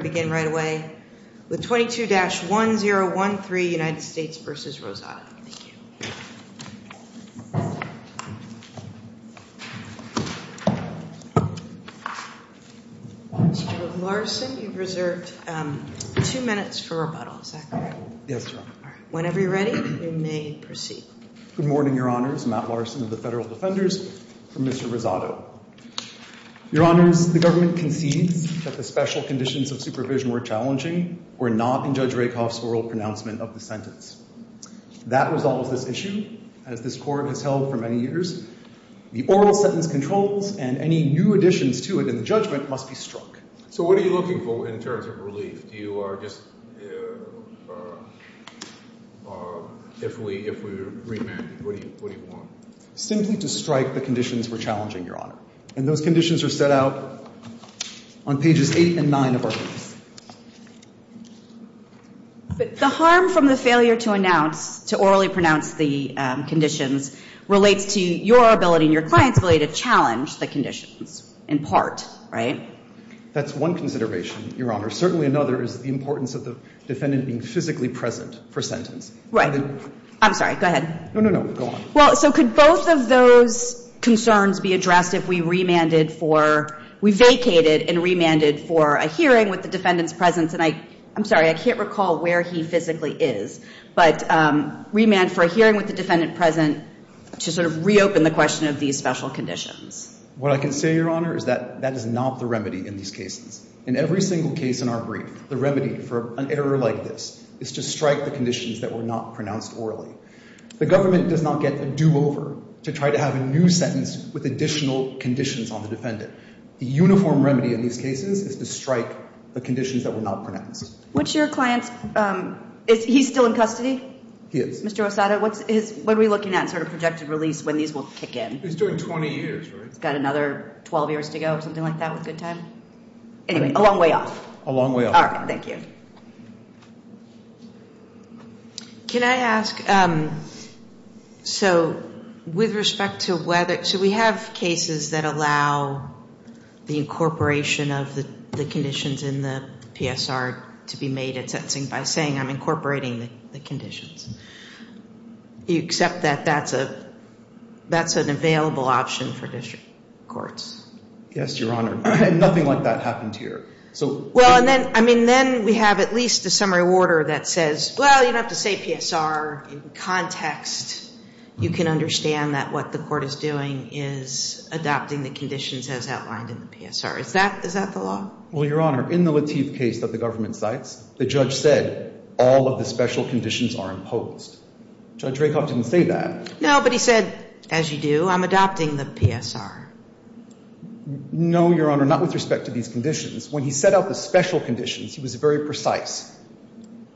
Good morning, your honors, Matt Larson of the Federal Defenders, from Mr. Rosado. Your honors, the government concedes that the special conditions of supervision were challenging were not in Judge Rakoff's oral pronouncement of the sentence. That resolves this issue, as this court has held for many years. The oral sentence controls, and any new additions to it in the judgment must be struck. So what are you looking for in terms of relief? Do you just, if we remand, what do you want? Simply to strike the conditions we're challenging, your honor. And those conditions are set out on pages 8 and 9 of our case. But the harm from the failure to announce, to orally pronounce the conditions, relates to your ability and your client's ability to challenge the conditions, in part, right? That's one consideration, your honor. Certainly another is the importance of the defendant being physically present for sentence. Right. I'm sorry, go ahead. No, no, no, go on. Well, so could both of those concerns be addressed if we remanded for, we vacated and remanded for a hearing with the defendant's presence? And I, I'm sorry, I can't recall where he physically is. But remand for a hearing with the defendant present to sort of reopen the question of these special conditions. What I can say, your honor, is that that is not the remedy in these cases. In every single case in our brief, the remedy for an error like this is to strike the conditions that were not pronounced orally. The government does not get a do-over to try to have a new sentence with additional conditions on the defendant. The uniform remedy in these cases is to strike the conditions that were not pronounced. Which your client's, is he still in custody? He is. Mr. Osada, what's his, what are we looking at in sort of projected release when these will kick in? He's doing 20 years, right? He's got another 12 years to go or something like that with good time? Anyway, a long way off. A long way off. All right, thank you. Can I ask, so with respect to whether, so we have cases that allow the incorporation of the conditions in the PSR to be made at sentencing by saying I'm incorporating the conditions. Do you accept that that's a, that's an available option for district courts? Yes, your honor. Nothing like that happened here. Well, and then, I mean, then we have at least a summary order that says, well, you don't have to say PSR in context. You can understand that what the court is doing is adopting the conditions as outlined in the PSR. Is that, is that the law? Well, your honor, in the Lateef case that the government cites, the judge said all of the special conditions are imposed. Judge Rakoff didn't say that. No, but he said, as you do, I'm adopting the PSR. No, your honor, not with respect to these conditions. When he set out the special conditions, he was very precise.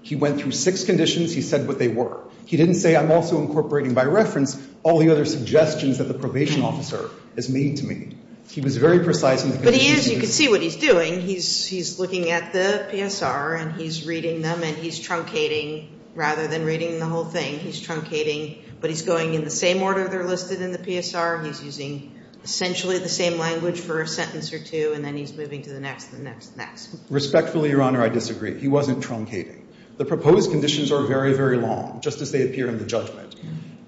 He went through six conditions. He said what they were. He didn't say I'm also incorporating by reference all the other suggestions that the probation officer has made to me. He was very precise in the conditions. But he is. You can see what he's doing. He's looking at the PSR, and he's reading them, and he's truncating rather than reading the whole thing. He's truncating, but he's going in the same order they're listed in the PSR. He's using essentially the same language for a sentence or two, and then he's moving to the next, the next, the next. Respectfully, your honor, I disagree. He wasn't truncating. The proposed conditions are very, very long, just as they appear in the judgment.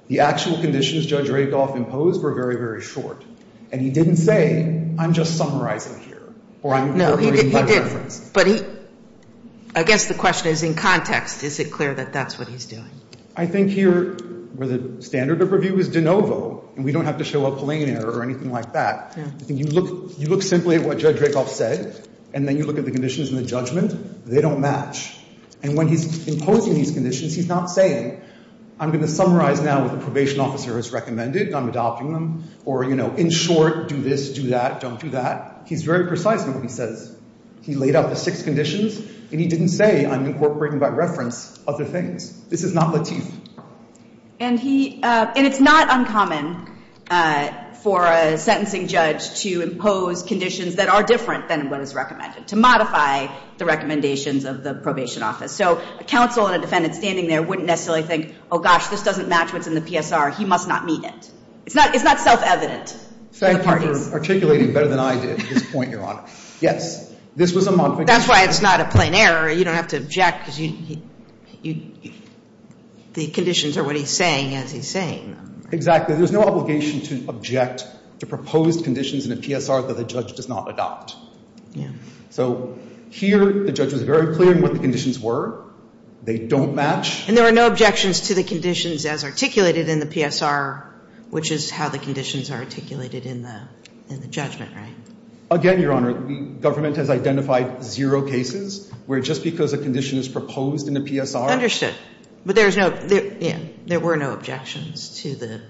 The actual conditions Judge Rakoff imposed were very, very short, and he didn't say I'm just summarizing here or I'm incorporating by reference. No, he did. But he, I guess the question is in context, is it clear that that's what he's doing? I think here where the standard of review is de novo, and we don't have to show a plain error or anything like that. You look simply at what Judge Rakoff said, and then you look at the conditions in the judgment. They don't match. And when he's imposing these conditions, he's not saying I'm going to summarize now what the probation officer has recommended, and I'm adopting them. Or, you know, in short, do this, do that, don't do that. He's very precise in what he says. He laid out the six conditions, and he didn't say I'm incorporating by reference other things. This is not Latif. And he, and it's not uncommon for a sentencing judge to impose conditions that are different than what is recommended, to modify the recommendations of the probation office. So a counsel and a defendant standing there wouldn't necessarily think, oh, gosh, this doesn't match what's in the PSR. He must not meet it. It's not self-evident for the parties. Thank you for articulating better than I did at this point, Your Honor. Yes, this was a modification. That's why it's not a plain error. You don't have to object because you, the conditions are what he's saying as he's saying them. Exactly. There's no obligation to object to proposed conditions in a PSR that a judge does not adopt. Yeah. So here the judge was very clear in what the conditions were. They don't match. And there were no objections to the conditions as articulated in the PSR, which is how the conditions are articulated in the judgment, right? Again, Your Honor, the government has identified zero cases where just because a condition is proposed in a PSR. Understood. But there's no, yeah, there were no objections to the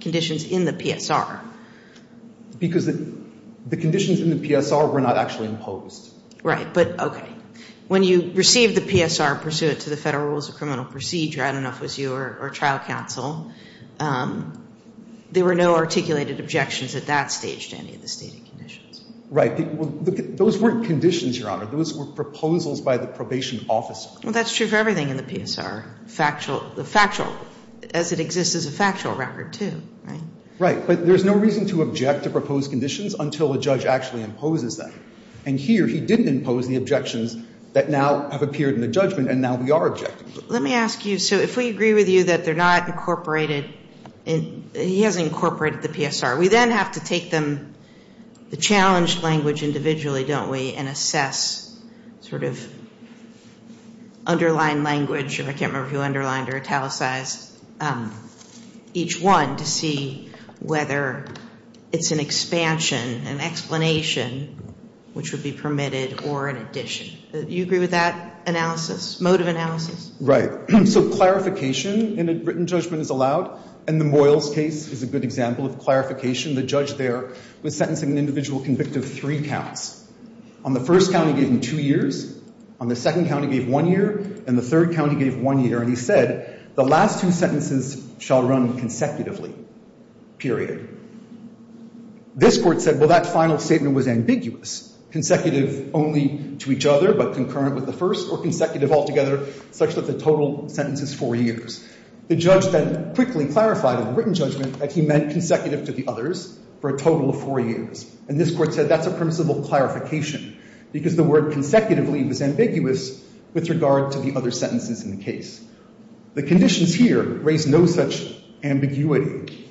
conditions in the PSR. Because the conditions in the PSR were not actually imposed. Right. But, okay. When you receive the PSR pursuant to the Federal Rules of Criminal Procedure, I don't know if it was you or trial counsel, there were no articulated objections at that stage to any of the stated conditions. Right. Those weren't conditions, Your Honor. Those were proposals by the probation officer. Well, that's true for everything in the PSR. Factual, the factual, as it exists as a factual record, too, right? Right. But there's no reason to object to proposed conditions until a judge actually imposes them. And here he didn't impose the objections that now have appeared in the judgment, and now we are objecting to them. Let me ask you, so if we agree with you that they're not incorporated, he hasn't incorporated the PSR. We then have to take them, the challenged language individually, don't we, and assess sort of underlined language. I can't remember if you underlined or italicized each one to see whether it's an expansion, an explanation, which would be permitted, or an addition. Do you agree with that analysis, mode of analysis? Right. So clarification in a written judgment is allowed, and the Moyles case is a good example of clarification. The judge there was sentencing an individual convict of three counts. On the first count, he gave him two years. On the second count, he gave one year. And the third count, he gave one year. And he said, the last two sentences shall run consecutively, period. This court said, well, that final statement was ambiguous, consecutive only to each other but concurrent with the first, or consecutive altogether, such that the total sentence is four years. The judge then quickly clarified in the written judgment that he meant consecutive to the others for a total of four years. And this court said, that's a permissible clarification, because the word consecutively was ambiguous with regard to the other sentences in the case. The conditions here raise no such ambiguity.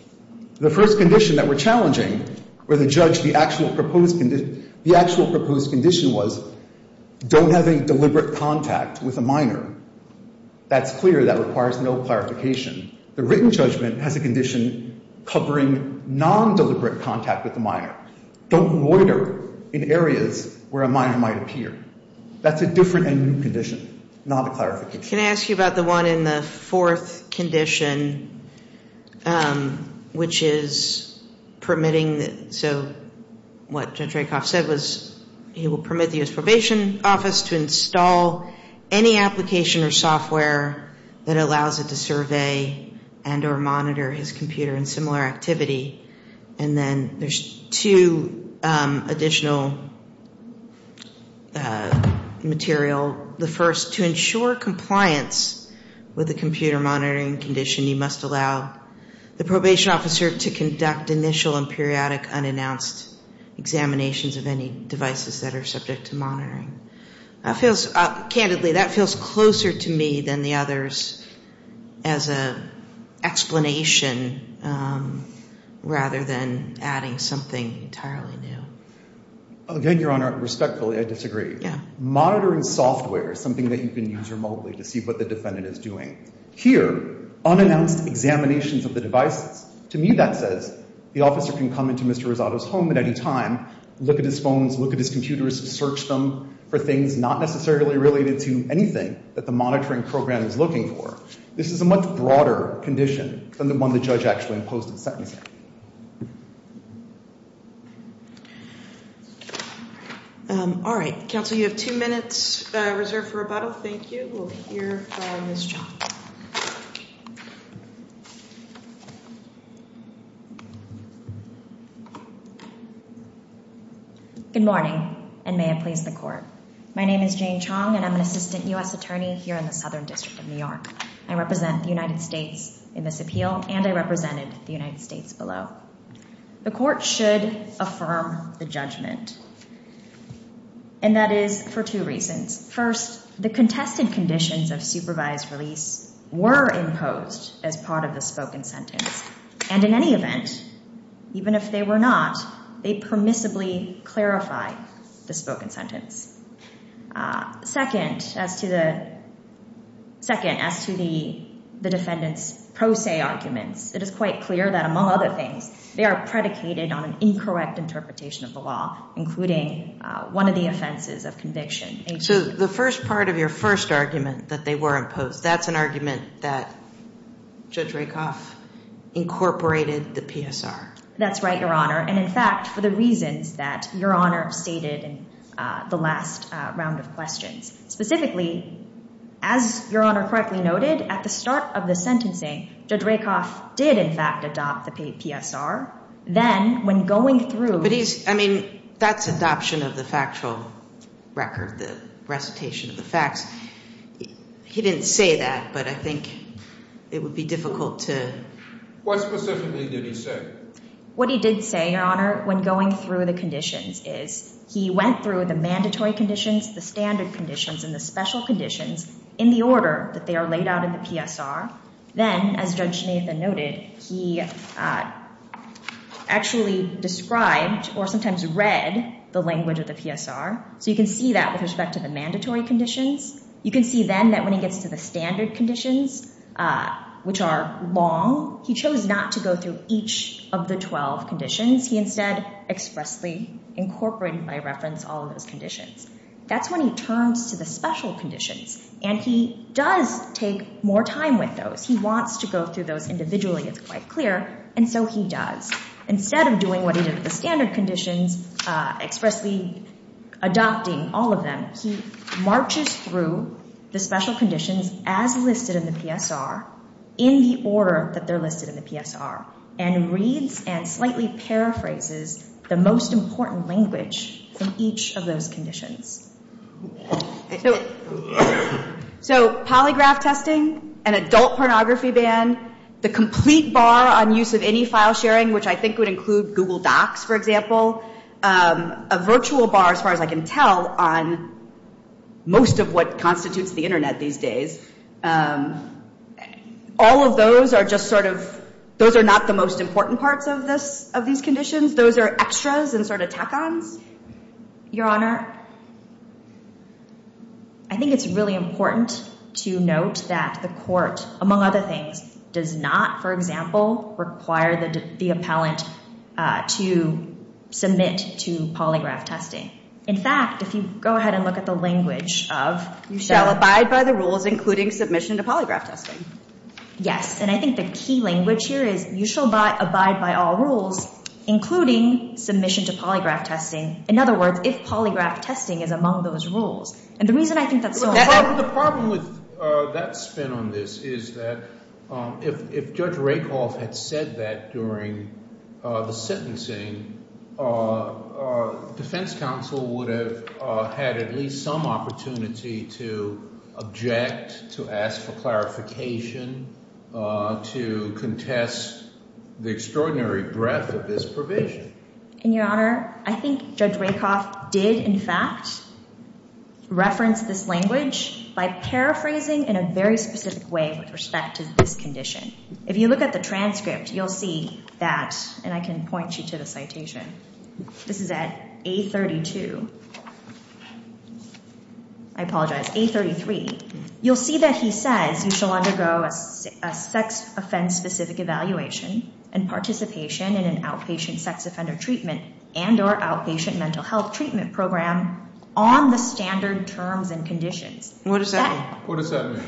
The first condition that were challenging were the judge, the actual proposed condition was, don't have any deliberate contact with a minor. That's clear. That requires no clarification. The written judgment has a condition covering non-deliberate contact with the minor. Don't loiter in areas where a minor might appear. That's a different and new condition, not a clarification. Can I ask you about the one in the fourth condition, which is permitting the – probation office to install any application or software that allows it to survey and or monitor his computer in similar activity. And then there's two additional material. The first, to ensure compliance with the computer monitoring condition, you must allow the probation officer to conduct initial and periodic unannounced examinations of any devices that are subject to monitoring. That feels – candidly, that feels closer to me than the others as an explanation, rather than adding something entirely new. Again, Your Honor, respectfully, I disagree. Yeah. Monitoring software is something that you can use remotely to see what the defendant is doing. Here, unannounced examinations of the devices, to me that says, the officer can come into Mr. Rosado's home at any time, look at his phones, look at his computers, search them for things not necessarily related to anything that the monitoring program is looking for. This is a much broader condition than the one the judge actually imposed in the sentencing. All right. Counsel, you have two minutes reserved for rebuttal. Thank you. We'll hear from Ms. Chong. Good morning, and may it please the Court. My name is Jane Chong, and I'm an assistant U.S. attorney here in the Southern District of New York. I represent the United States in this appeal, and I represented the United States below. The Court should affirm the judgment, and that is for two reasons. First, the contested conditions of supervised release were imposed as part of the spoken sentence, and in any event, even if they were not, they permissibly clarify the spoken sentence. Second, as to the defendant's pro se arguments, it is quite clear that, among other things, they are predicated on an incorrect interpretation of the law, including one of the offenses of conviction. So the first part of your first argument, that they were imposed, that's an argument that Judge Rakoff incorporated the PSR. That's right, Your Honor, and in fact, for the reasons that Your Honor stated in the last round of questions. Specifically, as Your Honor correctly noted, at the start of the sentencing, Judge Rakoff did in fact adopt the PSR. Then, when going through... But he's, I mean, that's adoption of the factual record, the recitation of the facts. He didn't say that, but I think it would be difficult to... What specifically did he say? What he did say, Your Honor, when going through the conditions, is he went through the mandatory conditions, the standard conditions, and the special conditions in the order that they are laid out in the PSR. Then, as Judge Schnaithen noted, he actually described or sometimes read the language of the PSR. So you can see that with respect to the mandatory conditions. You can see then that when he gets to the standard conditions, which are long, he chose not to go through each of the 12 conditions. He instead expressly incorporated by reference all of those conditions. That's when he turns to the special conditions, and he does take more time with those. He wants to go through those individually. It's quite clear, and so he does. Instead of doing what he did with the standard conditions, expressly adopting all of them, he marches through the special conditions as listed in the PSR in the order that they're listed in the PSR and reads and slightly paraphrases the most important language in each of those conditions. So polygraph testing, an adult pornography ban, the complete bar on use of any file sharing, which I think would include Google Docs, for example, a virtual bar, as far as I can tell, on most of what constitutes the internet these days, all of those are just sort of – those are not the most important parts of these conditions. Those are extras and sort of tack-ons. Your Honor, I think it's really important to note that the court, among other things, does not, for example, require the appellant to submit to polygraph testing. In fact, if you go ahead and look at the language of – You shall abide by the rules, including submission to polygraph testing. Yes, and I think the key language here is you shall abide by all rules, including submission to polygraph testing. In other words, if polygraph testing is among those rules. And the reason I think that's so important – if Judge Rakoff had said that during the sentencing, defense counsel would have had at least some opportunity to object, to ask for clarification, to contest the extraordinary breadth of this provision. And, Your Honor, I think Judge Rakoff did, in fact, reference this language by paraphrasing in a very specific way with respect to this condition. If you look at the transcript, you'll see that – and I can point you to the citation. This is at A32. I apologize, A33. You'll see that he says you shall undergo a sex-offense-specific evaluation and participation in an outpatient sex offender treatment and or outpatient mental health treatment program on the standard terms and conditions. What does that mean? What does that mean?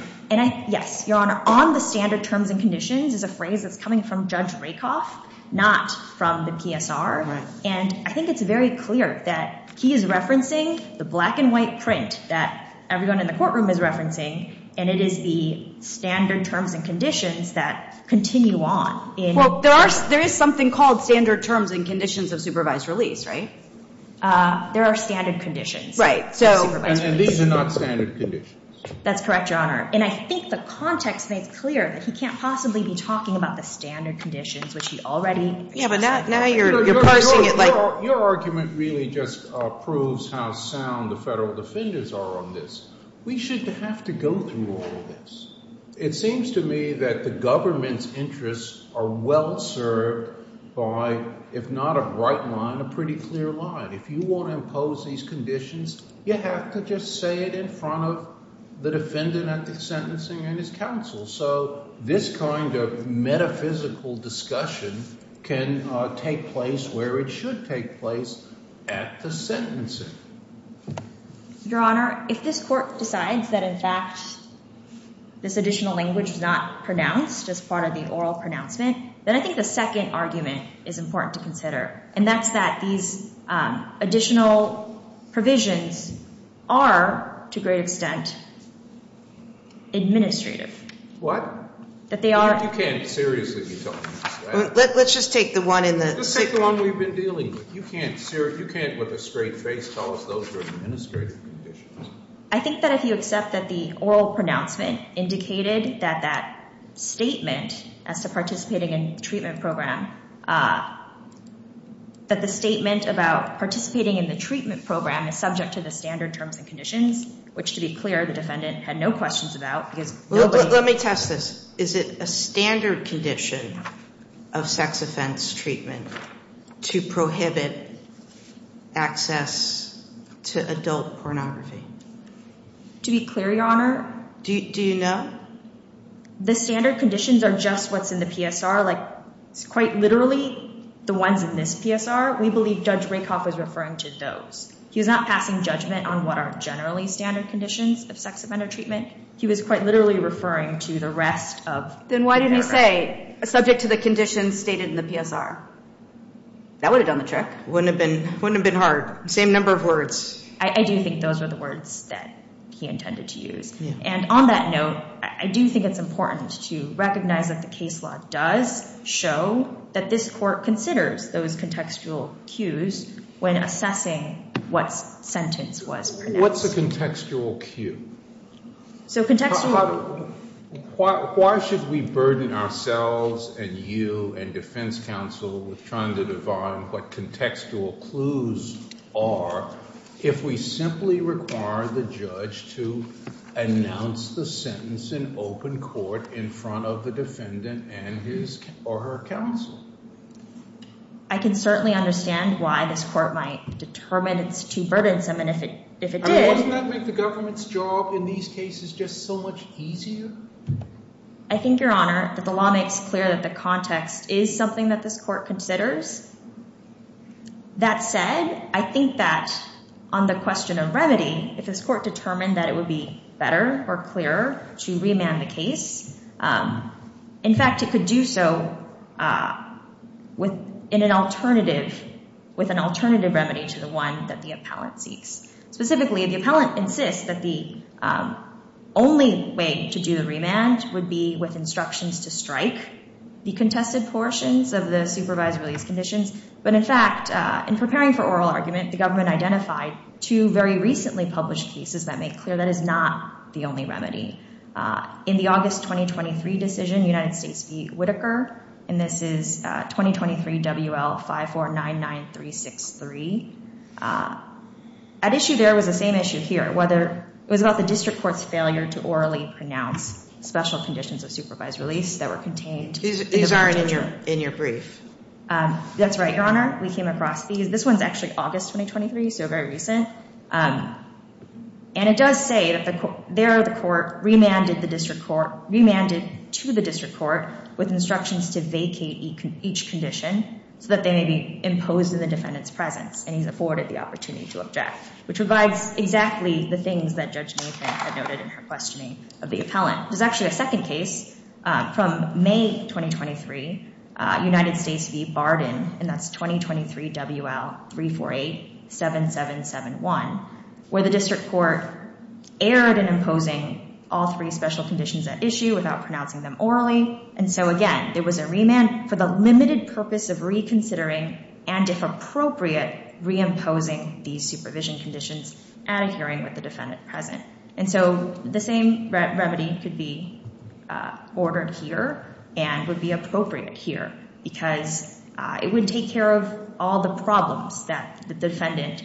Yes, Your Honor. On the standard terms and conditions is a phrase that's coming from Judge Rakoff, not from the PSR. And I think it's very clear that he is referencing the black-and-white print that everyone in the courtroom is referencing, and it is the standard terms and conditions that continue on. Well, there is something called standard terms and conditions of supervised release, right? There are standard conditions. Right. And these are not standard conditions. That's correct, Your Honor. And I think the context makes clear that he can't possibly be talking about the standard conditions, which he already – Yeah, but now you're pushing it like – Your argument really just proves how sound the federal defenders are on this. We should have to go through all of this. It seems to me that the government's interests are well served by, if not a bright line, a pretty clear line. If you want to impose these conditions, you have to just say it in front of the defendant at the sentencing and his counsel. So this kind of metaphysical discussion can take place where it should take place at the sentencing. Your Honor, if this court decides that, in fact, this additional language is not pronounced as part of the oral pronouncement, then I think the second argument is important to consider, and that's that these additional provisions are, to a great extent, administrative. What? That they are – You can't seriously be talking about that. Let's just take the one in the – Just take the one we've been dealing with. You can't with a straight face tell us those are administrative conditions. I think that if you accept that the oral pronouncement indicated that that statement as to participating in the treatment program, that the statement about participating in the treatment program is subject to the standard terms and conditions, which, to be clear, the defendant had no questions about because nobody – To be clear, Your Honor – Do you know? The standard conditions are just what's in the PSR. Like, it's quite literally the ones in this PSR. We believe Judge Rakoff was referring to those. He was not passing judgment on what are generally standard conditions of sex offender treatment. He was quite literally referring to the rest of – Then why didn't he say, subject to the conditions stated in the PSR? Wouldn't have been hard. Same number of words. I do think those were the words that he intended to use. Yeah. And on that note, I do think it's important to recognize that the case law does show that this court considers those contextual cues when assessing what sentence was pronounced. What's a contextual cue? So contextual – If we simply require the judge to announce the sentence in open court in front of the defendant and his or her counsel. I can certainly understand why this court might determine it's too burdensome, and if it did – I mean, wouldn't that make the government's job in these cases just so much easier? I think, Your Honor, that the law makes clear that the context is something that this court considers. That said, I think that on the question of remedy, if this court determined that it would be better or clearer to remand the case, in fact, it could do so with an alternative remedy to the one that the appellant seeks. Specifically, the appellant insists that the only way to do the remand would be with instructions to strike the contested portions of the supervised release conditions. But, in fact, in preparing for oral argument, the government identified two very recently published cases that make clear that is not the only remedy. In the August 2023 decision, United States v. Whitaker, and this is 2023 WL5499363. At issue there was the same issue here. It was about the district court's failure to orally pronounce special conditions of supervised release that were contained in the verdict. These aren't in your brief. That's right, Your Honor. We came across these. This one's actually August 2023, so very recent. And it does say that there the court remanded to the district court with instructions to vacate each condition so that they may be imposed in the defendant's presence. And he's afforded the opportunity to object, which provides exactly the things that Judge Nathan had noted in her questioning of the appellant. There's actually a second case from May 2023, United States v. Barden, and that's 2023 WL3487771, where the district court erred in imposing all three special conditions at issue without pronouncing them orally. And so, again, there was a remand for the limited purpose of reconsidering and, if appropriate, reimposing these supervision conditions at a hearing with the defendant present. And so the same remedy could be ordered here and would be appropriate here because it would take care of all the problems that the defendant,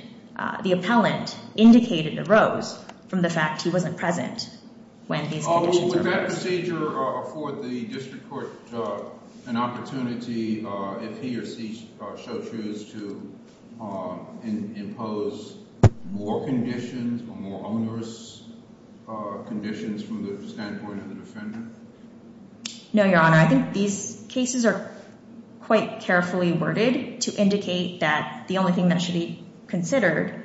the appellant, indicated arose from the fact he wasn't present when these conditions arose. Well, would that procedure afford the district court an opportunity if he or she so choose to impose more conditions or more onerous conditions from the standpoint of the defendant? No, Your Honor. I think these cases are quite carefully worded to indicate that the only thing that should be considered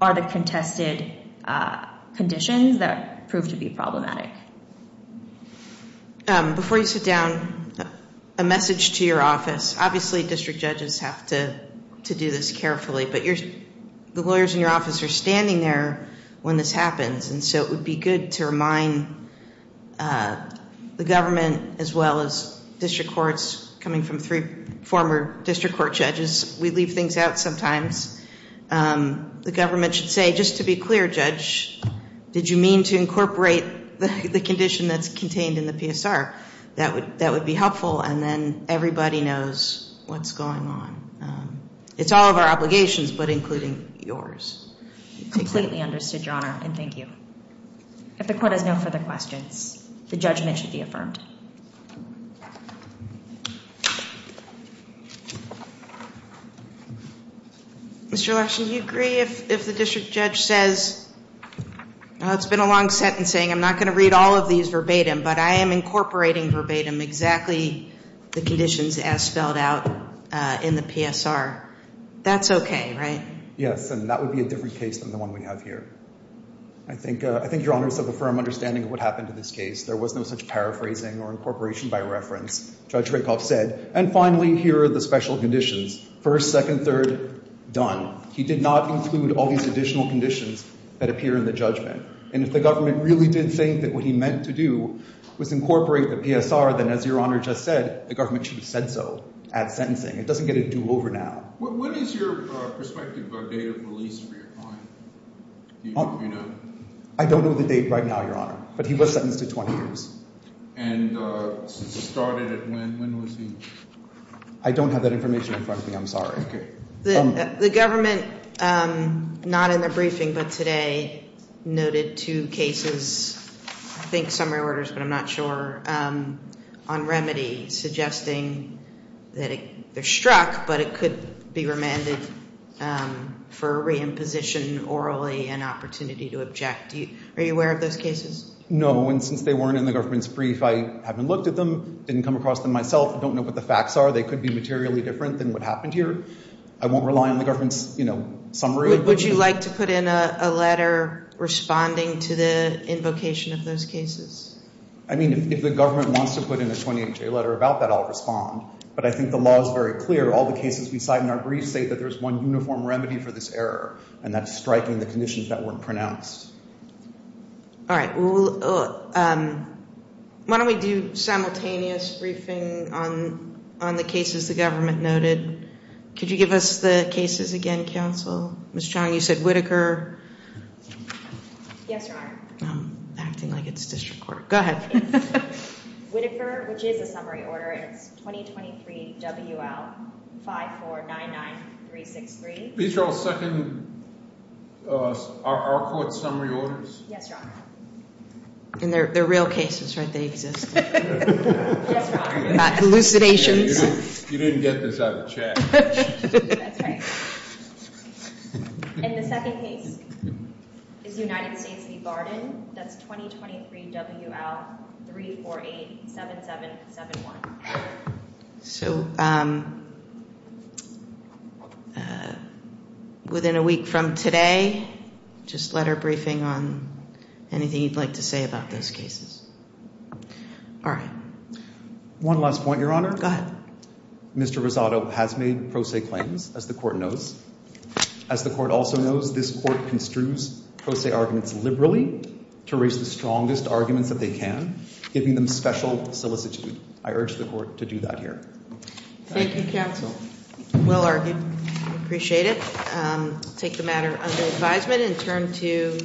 are the contested conditions that prove to be problematic. Before you sit down, a message to your office. Obviously, district judges have to do this carefully, but the lawyers in your office are standing there when this happens. And so it would be good to remind the government as well as district courts, coming from three former district court judges, we leave things out sometimes. The government should say, just to be clear, Judge, did you mean to incorporate the condition that's contained in the PSR? That would be helpful, and then everybody knows what's going on. It's all of our obligations, but including yours. Completely understood, Your Honor, and thank you. If the court has no further questions, the judgment should be affirmed. Mr. Lashley, do you agree if the district judge says, it's been a long sentencing, I'm not going to read all of these verbatim, but I am incorporating verbatim exactly the conditions as spelled out in the PSR. That's okay, right? Yes, and that would be a different case than the one we have here. I think Your Honor is of a firm understanding of what happened in this case. There was no such paraphrasing or incorporation by reference, Judge Rakoff said. And finally, here are the special conditions. First, second, third, done. He did not include all these additional conditions that appear in the judgment. And if the government really did think that what he meant to do was incorporate the PSR, then as Your Honor just said, the government should have said so at sentencing. It doesn't get a do-over now. When is your prospective date of release for your client? Do you know? I don't know the date right now, Your Honor, but he was sentenced to 20 years. And since it started, when was he? I don't have that information in front of me, I'm sorry. Okay. The government, not in their briefing but today, noted two cases, I think summary orders but I'm not sure, on remedy, suggesting that they're struck but it could be remanded for reimposition orally and opportunity to object. Are you aware of those cases? No, and since they weren't in the government's brief, I haven't looked at them, didn't come across them myself, don't know what the facts are. I don't know how they could be materially different than what happened here. I won't rely on the government's, you know, summary. Would you like to put in a letter responding to the invocation of those cases? I mean, if the government wants to put in a 28-J letter about that, I'll respond. But I think the law is very clear, all the cases we cite in our briefs say that there's one uniform remedy for this error, and that's striking the conditions that weren't pronounced. All right. Why don't we do simultaneous briefing on the cases the government noted. Could you give us the cases again, counsel? Ms. Chong, you said Whitaker. Yes, Your Honor. I'm acting like it's district court. Go ahead. It's Whitaker, which is a summary order, and it's 2023 WL 5499363. These are all second our court's summary orders? Yes, Your Honor. And they're real cases, right? They exist. Yes, Your Honor. Not hallucinations. You didn't get this out of the chat. That's right. And the second case is United States v. Barton. That's 2023 WL 3487771. So within a week from today, just letter briefing on anything you'd like to say about those cases. All right. One last point, Your Honor. Go ahead. Mr. Rosado has made pro se claims, as the court knows. As the court also knows, this court construes pro se arguments liberally to raise the strongest arguments that they can, giving them special solicitude. I urge the court to do that here. Thank you, counsel. Well argued. Appreciate it. I'll take the matter under advisement and turn to.